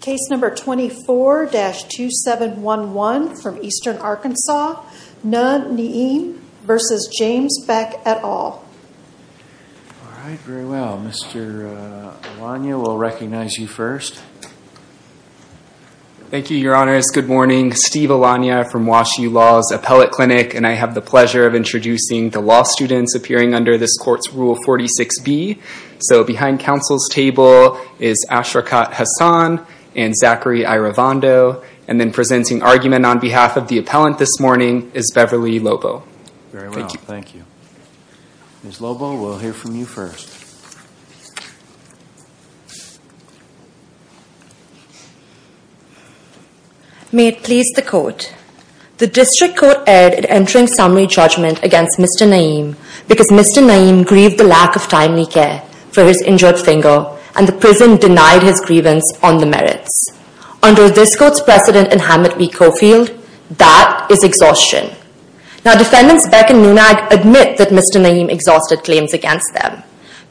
Case number 24-2711 from Eastern Arkansas. Nauh Na'im v. James Beck et al. All right, very well. Mr. Alanya, we'll recognize you first. Thank you, Your Honor. It's good morning. Steve Alanya from Wash U Law's Appellate Clinic. And I have the pleasure of introducing the law students appearing under this court's Rule 46B. So behind counsel's table is Ashraqat Hassan and Zachary Iravondo. And then presenting argument on behalf of the appellant this morning is Beverly Lobo. Very well, thank you. Ms. Lobo, we'll hear from you first. May it please the Court. The District Court erred in entering summary judgment against Mr. Na'im because Mr. Na'im grieved the lack of timely care for his injured finger and the prison denied his grievance on the merits. Under this court's precedent in Hammett v. Coffield, that is exhaustion. Now defendants Beck and Nunag admit that Mr. Na'im exhausted claims against them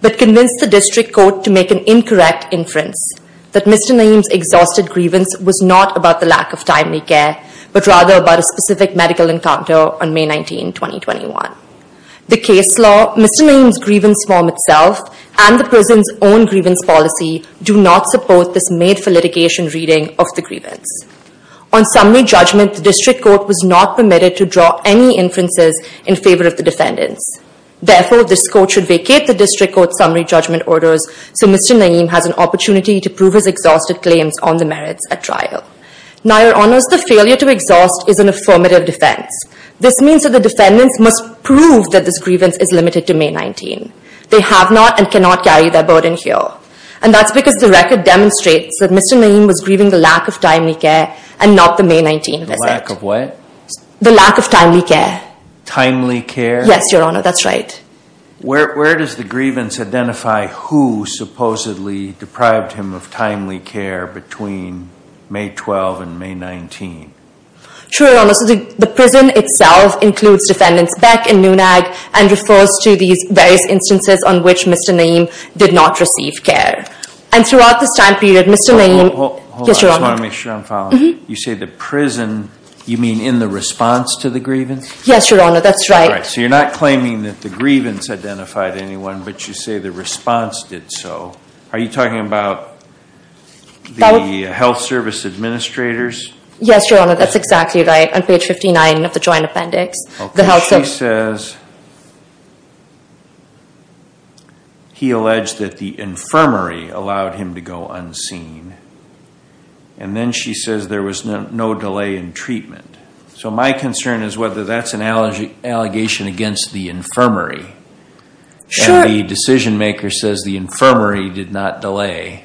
but convinced the District Court to make an incorrect inference that Mr. Na'im's exhausted grievance was not about the lack of timely care but rather about a specific medical encounter on May 19, 2021. The case law, Mr. Na'im's grievance form itself, and the prison's own grievance policy do not support this made-for-litigation reading of the grievance. On summary judgment, the District Court was not permitted to draw any inferences in favor of the defendants. Therefore, this court should vacate the District Court's summary judgment orders so Mr. Na'im has an opportunity to prove his exhausted claims on the merits at trial. Now, Your Honors, the failure to exhaust is an affirmative defense. This means that the defendants must prove that this grievance is limited to May 19. They have not and cannot carry that burden here. And that's because the record demonstrates that Mr. Na'im was grieving the lack of timely care and not the May 19 visit. The lack of what? The lack of timely care. Timely care? Yes, Your Honor, that's right. Where does the grievance identify who supposedly deprived him of timely care between May 12 and May 19? Sure, Your Honor. So the prison itself includes defendants Beck and Nunag and refers to these various instances on which Mr. Na'im did not receive care. And throughout this time period, Mr. Na'im Hold on, I just want to make sure I'm following. You say the prison, you mean in the response to the grievance? Yes, Your Honor, that's right. All right, so you're not claiming that the grievance identified anyone, but you say the response did so. Are you talking about the health service administrators? Yes, Your Honor, that's exactly right. On page 59 of the joint appendix. Okay, she says he alleged that the infirmary allowed him to go unseen. And then she says there was no delay in treatment. So my concern is whether that's an allegation against the infirmary. And the decision maker says the infirmary did not delay,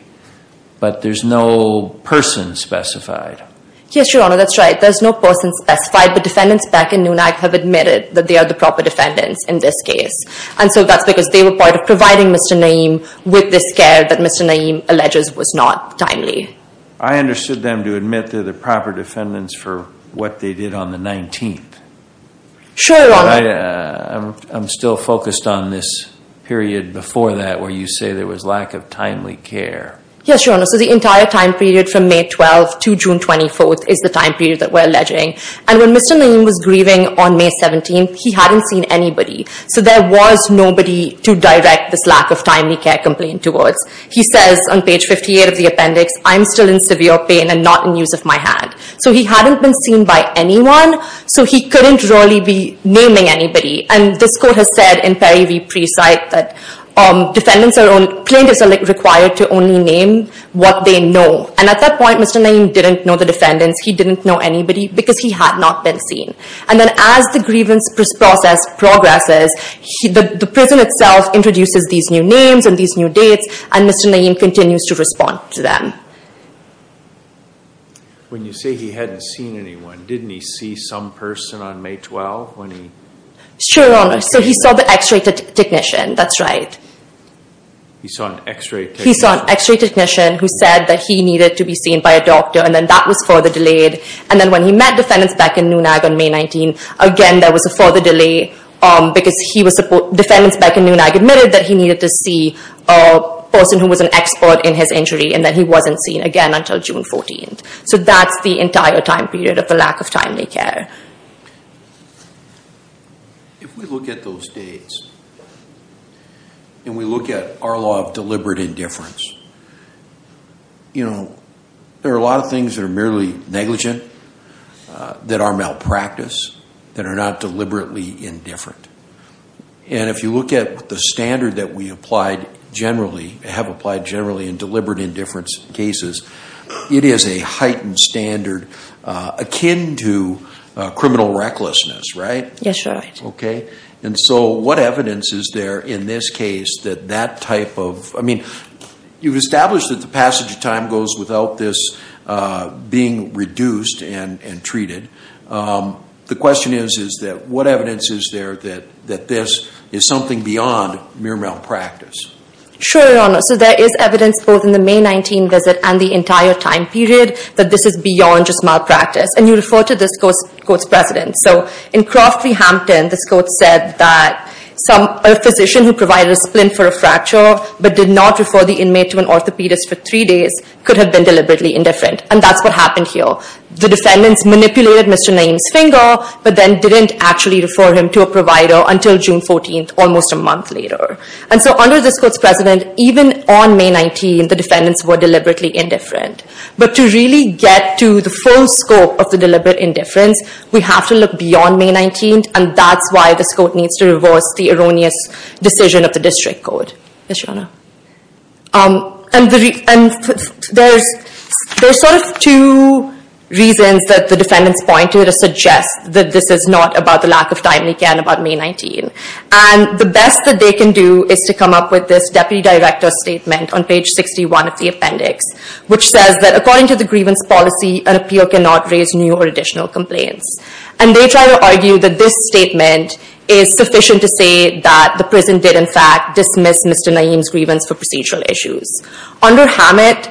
but there's no person specified. Yes, Your Honor, that's right. There's no person specified, but defendants Beck and Nunag have admitted that they are the proper defendants in this case. And so that's because they were part of providing Mr. Na'im with this care that Mr. Na'im alleges was not timely. I understood them to admit they're the proper defendants for what they did on the 19th. Sure, Your Honor. I'm still focused on this period before that where you say there was lack of timely care. Yes, Your Honor, so the entire time period from May 12th to June 24th is the time period that we're alleging. And when Mr. Na'im was grieving on May 17th, he hadn't seen anybody. So there was nobody to direct this lack of timely care complaint towards. He says on page 58 of the appendix, I'm still in severe pain and not in use of my hand. So he hadn't been seen by anyone, so he couldn't really be naming anybody. And this court has said in Perry v. Precite that plaintiffs are required to only name what they know. And at that point, Mr. Na'im didn't know the defendants. He didn't know anybody because he had not been seen. And then as the grievance process progresses, the prison itself introduces these new names and these new dates, and Mr. Na'im continues to respond to them. When you say he hadn't seen anyone, didn't he see some person on May 12th? Sure, Your Honor. So he saw the x-ray technician. That's right. He saw an x-ray technician? He saw an x-ray technician who said that he needed to be seen by a doctor, and then that was further delayed. And then when he met defendants back in Nunag on May 19th, again, there was a further delay because defendants back in Nunag admitted that he needed to see a person who was an expert in his injury, and that he wasn't seen again until June 14th. So that's the entire time period of the lack of timely care. If we look at those dates, and we look at our law of deliberate indifference, you know, there are a lot of things that are merely negligent, that are malpractice, that are not deliberately indifferent. And if you look at the standard that we applied generally, have applied generally in deliberate indifference cases, it is a heightened standard akin to criminal recklessness, right? Yes, Your Honor. Okay. And so what evidence is there in this case that that type of – I mean, you've established that the passage of time goes without this being reduced and treated. The question is, is that what evidence is there that this is something beyond mere malpractice? Sure, Your Honor. So there is evidence both in the May 19 visit and the entire time period that this is beyond just malpractice. And you refer to this court's precedent. So in Croft v. Hampton, this court said that a physician who provided a splint for a fracture but did not refer the inmate to an orthopedist for three days could have been deliberately indifferent. And that's what happened here. The defendants manipulated Mr. Naeem's finger but then didn't actually refer him to a provider until June 14th, almost a month later. And so under this court's precedent, even on May 19, the defendants were deliberately indifferent. But to really get to the full scope of the deliberate indifference, we have to look beyond May 19, and that's why this court needs to reverse the erroneous decision of the district court. Yes, Your Honor. And there's sort of two reasons that the defendants point to to suggest that this is not about the lack of timely care about May 19. And the best that they can do is to come up with this deputy director statement on page 61 of the appendix, which says that according to the grievance policy, an appeal cannot raise new or additional complaints. And they try to argue that this statement is sufficient to say that the prison did in fact dismiss Mr. Naeem's grievance for procedural issues. Under Hammett,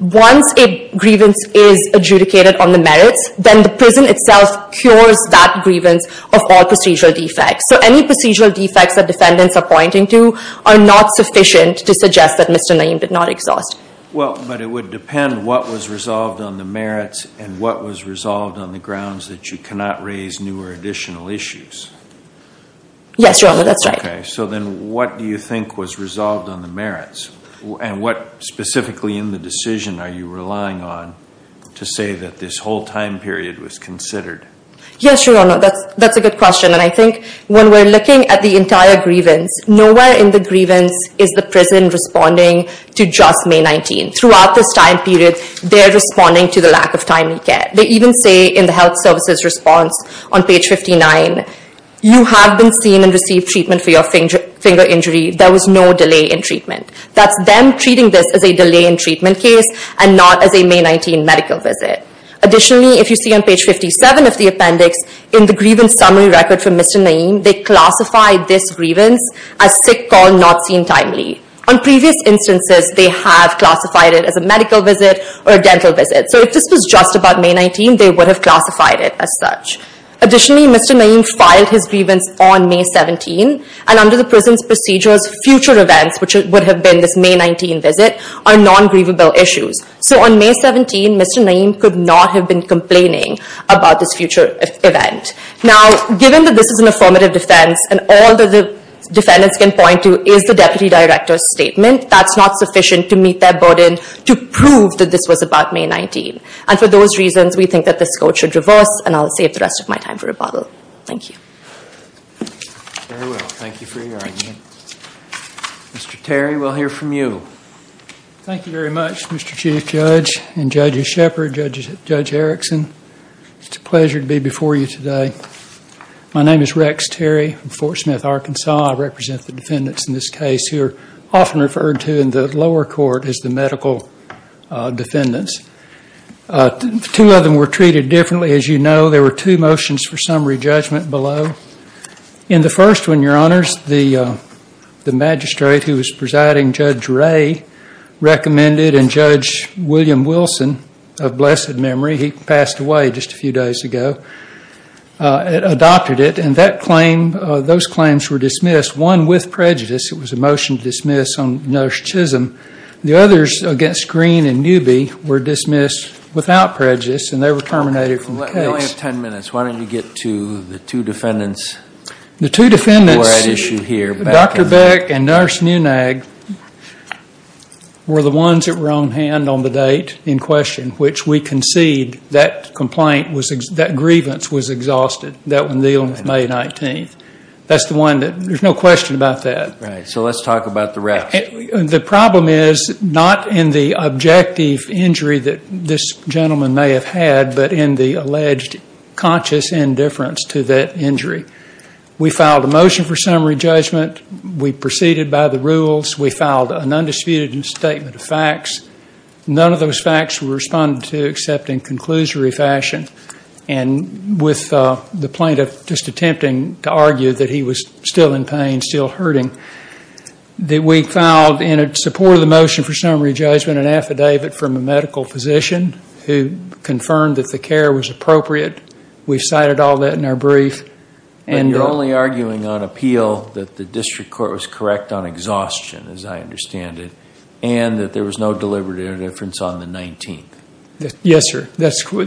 once a grievance is adjudicated on the merits, then the prison itself cures that grievance of all procedural defects. So any procedural defects that defendants are pointing to are not sufficient to suggest that Mr. Naeem did not exhaust. Well, but it would depend what was resolved on the merits and what was resolved on the grounds that you cannot raise new or additional issues. Yes, Your Honor, that's right. Okay, so then what do you think was resolved on the merits? And what specifically in the decision are you relying on to say that this whole time period was considered? Yes, Your Honor, that's a good question. And I think when we're looking at the entire grievance, nowhere in the grievance is the prison responding to just May 19. Throughout this time period, they're responding to the lack of timely care. They even say in the health services response on page 59, you have been seen and received treatment for your finger injury. There was no delay in treatment. That's them treating this as a delay in treatment case and not as a May 19 medical visit. Additionally, if you see on page 57 of the appendix in the grievance summary record for Mr. Naeem, they classify this grievance as sick call not seen timely. On previous instances, they have classified it as a medical visit or a dental visit. So if this was just about May 19, they would have classified it as such. Additionally, Mr. Naeem filed his grievance on May 17. And under the prison's procedures, future events, which would have been this May 19 visit, are non-grievable issues. So on May 17, Mr. Naeem could not have been complaining about this future event. Now, given that this is an affirmative defense, and all that the defendants can point to is the deputy director's statement, that's not sufficient to meet their burden to prove that this was about May 19. And for those reasons, we think that this court should reverse, and I'll save the rest of my time for rebuttal. Thank you. Very well. Thank you for your argument. Mr. Terry, we'll hear from you. Thank you very much, Mr. Chief Judge and Judge Shepard, Judge Erickson. It's a pleasure to be before you today. My name is Rex Terry from Fort Smith, Arkansas. I represent the defendants in this case who are often referred to in the lower court as the medical defendants. Two of them were treated differently, as you know. There were two motions for summary judgment below. In the first one, Your Honors, the magistrate who was presiding, Judge Ray, recommended, and Judge William Wilson, of blessed memory, he passed away just a few days ago, adopted it. And those claims were dismissed, one with prejudice. It was a motion to dismiss on narcissism. The others against Green and Newby were dismissed without prejudice, and they were terminated from the case. We only have ten minutes. Why don't you get to the two defendants who were at issue here. The two defendants, Dr. Beck and Nurse Nunag, were the ones that were on hand on the date in question, which we concede that grievance was exhausted, that one dealing with May 19th. There's no question about that. Right. So let's talk about the rest. The problem is not in the objective injury that this gentleman may have had, but in the alleged conscious indifference to that injury. We filed a motion for summary judgment. We proceeded by the rules. We filed an undisputed statement of facts. None of those facts were responded to except in conclusory fashion, and with the plaintiff just attempting to argue that he was still in pain, still hurting. We filed, in support of the motion for summary judgment, an affidavit from a medical physician who confirmed that the care was appropriate. We cited all that in our brief. And you're only arguing on appeal that the district court was correct on exhaustion, as I understand it, and that there was no deliberate indifference on the 19th. Yes, sir.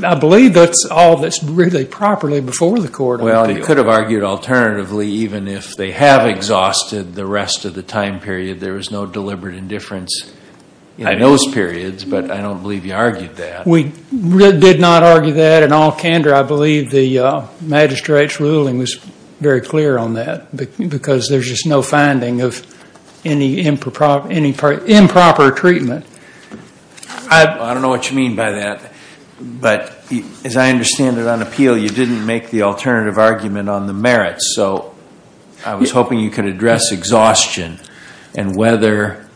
I believe that's all that's really properly before the court argued. Well, they could have argued alternatively even if they have exhausted the rest of the time period. There was no deliberate indifference in those periods, but I don't believe you argued that. We did not argue that in all candor. I believe the magistrate's ruling was very clear on that, because there's just no finding of any improper treatment. I don't know what you mean by that. But as I understand it on appeal, you didn't make the alternative argument on the merits. So I was hoping you could address exhaustion and whether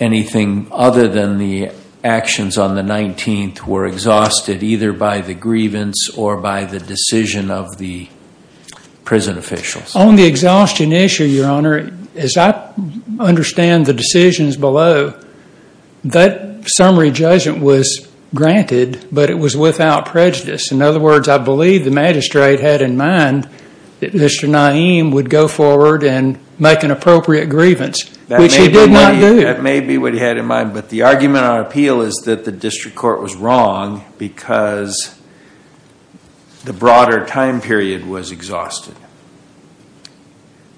anything other than the actions on the 19th were exhausted, either by the grievance or by the decision of the prison officials. On the exhaustion issue, Your Honor, as I understand the decisions below, that summary judgment was granted, but it was without prejudice. In other words, I believe the magistrate had in mind that Mr. Naeem would go forward and make an appropriate grievance, which he did not do. That may be what he had in mind, but the argument on appeal is that the district court was wrong because the broader time period was exhausted.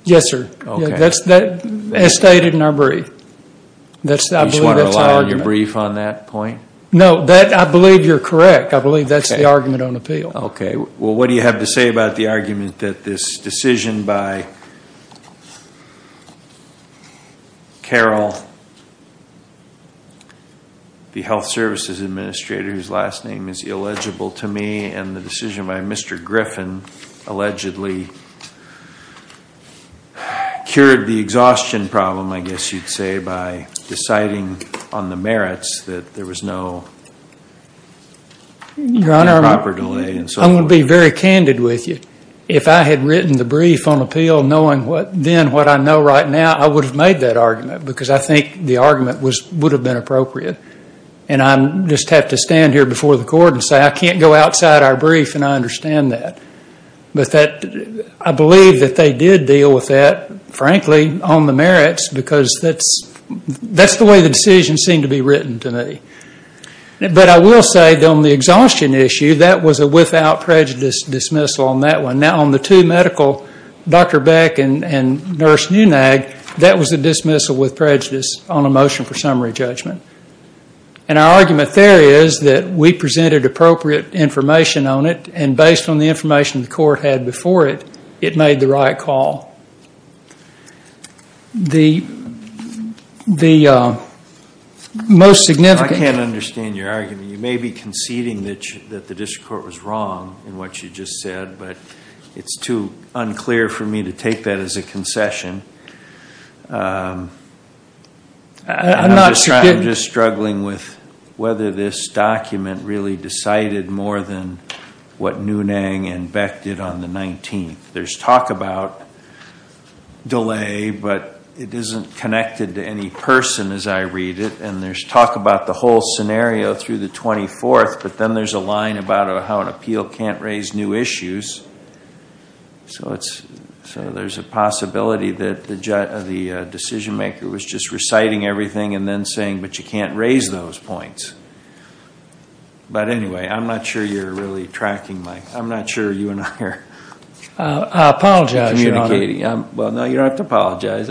Yes, sir. Okay. That's stated in our brief. You just want to rely on your brief on that point? No, I believe you're correct. I believe that's the argument on appeal. Okay. Well, what do you have to say about the argument that this decision by Carol, the health services administrator whose last name is illegible to me, and the decision by Mr. Griffin allegedly cured the exhaustion problem, I guess you'd say, by deciding on the merits that there was no proper delay and so forth? Your Honor, I'm going to be very candid with you. If I had written the brief on appeal knowing then what I know right now, I would have made that argument because I think the argument would have been appropriate. And I just have to stand here before the court and say I can't go outside our brief and I understand that. But I believe that they did deal with that, frankly, on the merits because that's the way the decision seemed to be written to me. But I will say on the exhaustion issue, that was a without prejudice dismissal on that one. And now on the two medical, Dr. Beck and Nurse Nunag, that was a dismissal with prejudice on a motion for summary judgment. And our argument there is that we presented appropriate information on it and based on the information the court had before it, it made the right call. The most significant- I can't understand your argument. You may be conceding that the district court was wrong in what you just said, but it's too unclear for me to take that as a concession. I'm just struggling with whether this document really decided more than what Nunag and Beck did on the 19th. There's talk about delay, but it isn't connected to any person as I read it. And there's talk about the whole scenario through the 24th, but then there's a line about how an appeal can't raise new issues. So there's a possibility that the decision maker was just reciting everything and then saying, but you can't raise those points. But anyway, I'm not sure you're really tracking my-I'm not sure you and I are communicating. I apologize, Your Honor. Well, no, you don't have to apologize.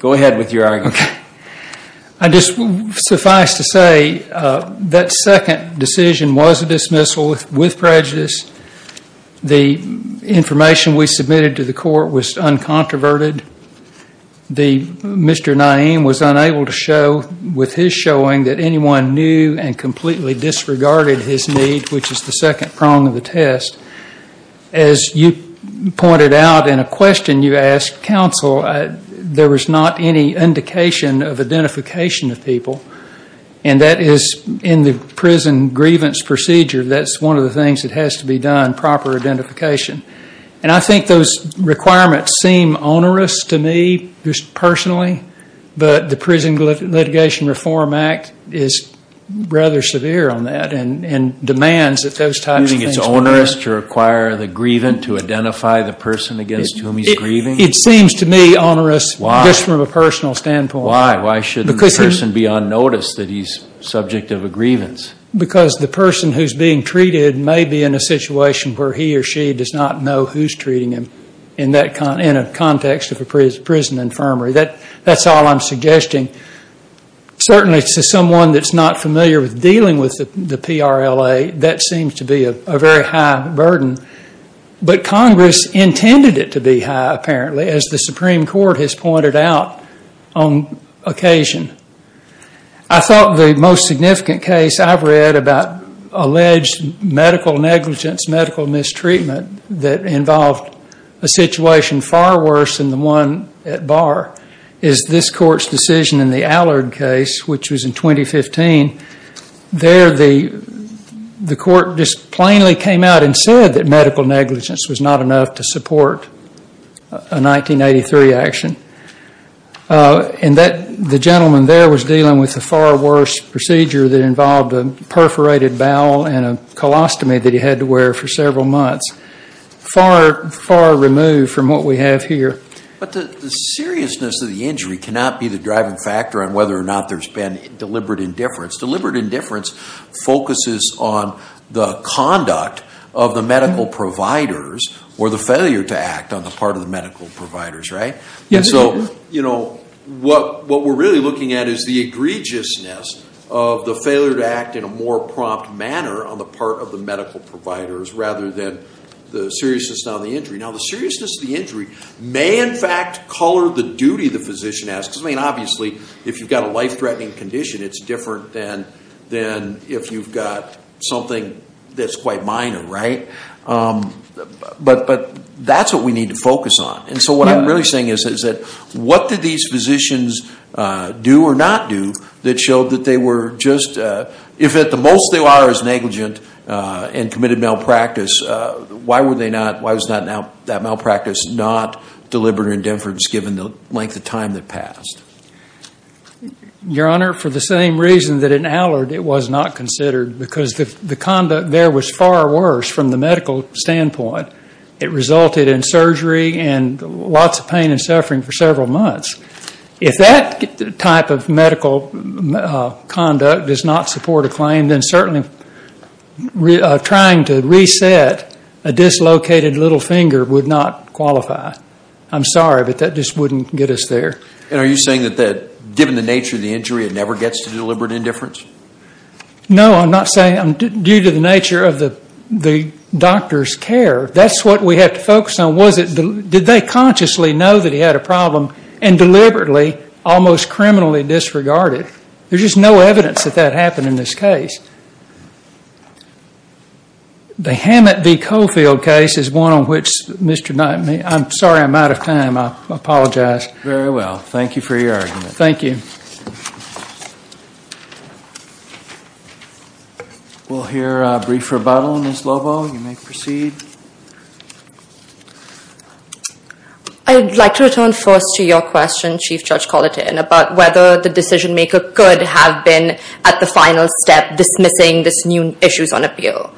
Go ahead with your argument. I just-suffice to say, that second decision was a dismissal with prejudice. The information we submitted to the court was uncontroverted. Mr. Naeem was unable to show with his showing that anyone knew and completely disregarded his need, which is the second prong of the test. As you pointed out in a question you asked counsel, there was not any indication of identification of people. And that is in the prison grievance procedure, that's one of the things that has to be done, proper identification. And I think those requirements seem onerous to me just personally, but the Prison Litigation Reform Act is rather severe on that and demands that those types of things be done. You mean it's onerous to require the grievant to identify the person against whom he's grieving? It seems to me onerous just from a personal standpoint. Why shouldn't the person be unnoticed that he's subject of a grievance? Because the person who's being treated may be in a situation where he or she does not know who's treating him in a context of a prison infirmary. That's all I'm suggesting. Certainly to someone that's not familiar with dealing with the PRLA, that seems to be a very high burden. But Congress intended it to be high, apparently, as the Supreme Court has pointed out on occasion. I thought the most significant case I've read about alleged medical negligence, medical mistreatment that involved a situation far worse than the one at bar is this court's decision in the Allard case, which was in 2015. There the court just plainly came out and said that medical negligence was not enough to support a 1983 action. And the gentleman there was dealing with a far worse procedure that involved a perforated bowel and a colostomy that he had to wear for several months. Far, far removed from what we have here. But the seriousness of the injury cannot be the driving factor on whether or not there's been deliberate indifference. Deliberate indifference focuses on the conduct of the medical providers or the failure to act on the part of the medical providers, right? So what we're really looking at is the egregiousness of the failure to act in a more prompt manner on the part of the medical providers rather than the seriousness of the injury. Now, the seriousness of the injury may in fact color the duty the physician has. Because, I mean, obviously if you've got a life-threatening condition, it's different than if you've got something that's quite minor, right? But that's what we need to focus on. And so what I'm really saying is that what did these physicians do or not do that showed that they were just, if at the most they are as negligent and committed malpractice, why was that malpractice not deliberate indifference given the length of time that passed? Your Honor, for the same reason that in Allard it was not considered. Because the conduct there was far worse from the medical standpoint. It resulted in surgery and lots of pain and suffering for several months. If that type of medical conduct does not support a claim, then certainly trying to reset a dislocated little finger would not qualify. I'm sorry, but that just wouldn't get us there. And are you saying that given the nature of the injury, it never gets to deliberate indifference? No, I'm not saying. Due to the nature of the doctor's care, that's what we have to focus on. Did they consciously know that he had a problem and deliberately almost criminally disregard it? There's just no evidence that that happened in this case. The Hammett v. Caulfield case is one on which Mr. Knight, I'm sorry I'm out of time. I apologize. Very well. Thank you for your argument. Thank you. We'll hear a brief rebuttal. Ms. Lobo, you may proceed. I'd like to return first to your question, Chief Judge Colitane, about whether the decision-maker could have been, at the final step, dismissing these new issues on appeal.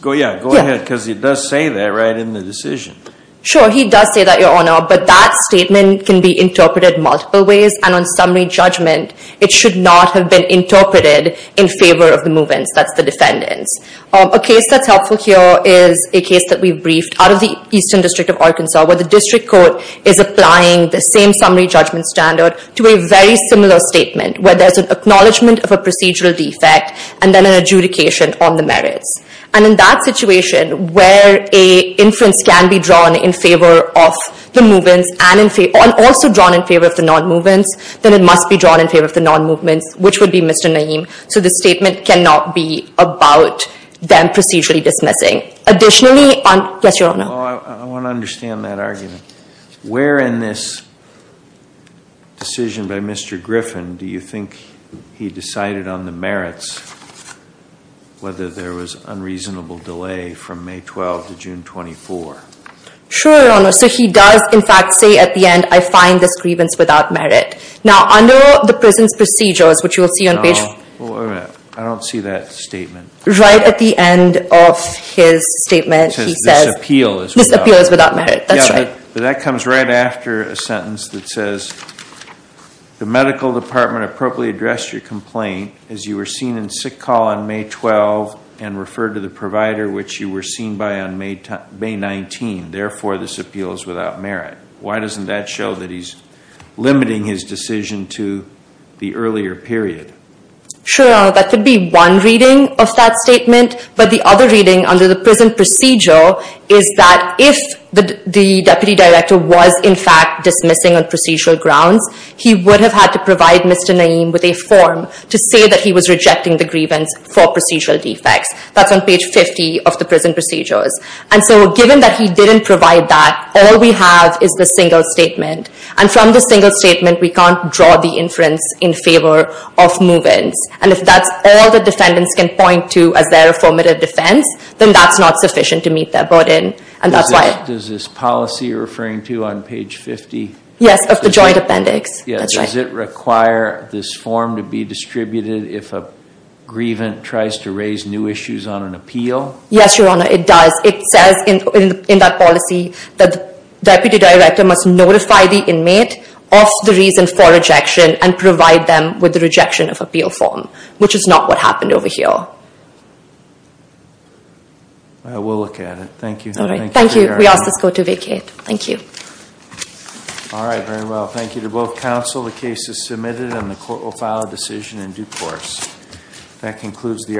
Go ahead, because he does say that right in the decision. Sure, he does say that, Your Honor, but that statement can be interpreted multiple ways, and on summary judgment it should not have been interpreted in favor of the movements, that's the defendants. A case that's helpful here is a case that we've briefed out of the Eastern District of Arkansas where the district court is applying the same summary judgment standard to a very similar statement, where there's an acknowledgment of a procedural defect and then an adjudication on the merits. And in that situation where an inference can be drawn in favor of the movements and also drawn in favor of the non-movements, then it must be drawn in favor of the non-movements, which would be Mr. Naeem. So the statement cannot be about them procedurally dismissing. Additionally, yes, Your Honor. Well, I want to understand that argument. Where in this decision by Mr. Griffin do you think he decided on the merits, whether there was unreasonable delay from May 12 to June 24? Sure, Your Honor. So he does, in fact, say at the end, I find this grievance without merit. Now, under the prison's procedures, which you will see on page— No, wait a minute. I don't see that statement. Right at the end of his statement he says— This appeal is without merit. This appeal is without merit. That's right. Yeah, but that comes right after a sentence that says, the medical department appropriately addressed your complaint as you were seen in sick call on May 12 and referred to the provider, which you were seen by on May 19. Therefore, this appeal is without merit. Why doesn't that show that he's limiting his decision to the earlier period? Sure, Your Honor. That could be one reading of that statement. But the other reading under the prison procedure is that if the deputy director was, in fact, dismissing on procedural grounds, he would have had to provide Mr. Naeem with a form to say that he was rejecting the grievance for procedural defects. That's on page 50 of the prison procedures. And so given that he didn't provide that, all we have is the single statement. And from the single statement we can't draw the inference in favor of move-ins. And if that's all the defendants can point to as their affirmative defense, then that's not sufficient to meet their burden. Does this policy you're referring to on page 50? Yes, of the joint appendix. Does it require this form to be distributed if a grievant tries to raise new issues on an appeal? Yes, Your Honor, it does. It says in that policy that the deputy director must notify the inmate of the reason for rejection and provide them with the rejection of appeal form, which is not what happened over here. We'll look at it. Thank you. Thank you. We ask this court to vacate. Thank you. All right, very well. Thank you to both counsel. The case is submitted and the court will file a decision in due course. That concludes the hearing.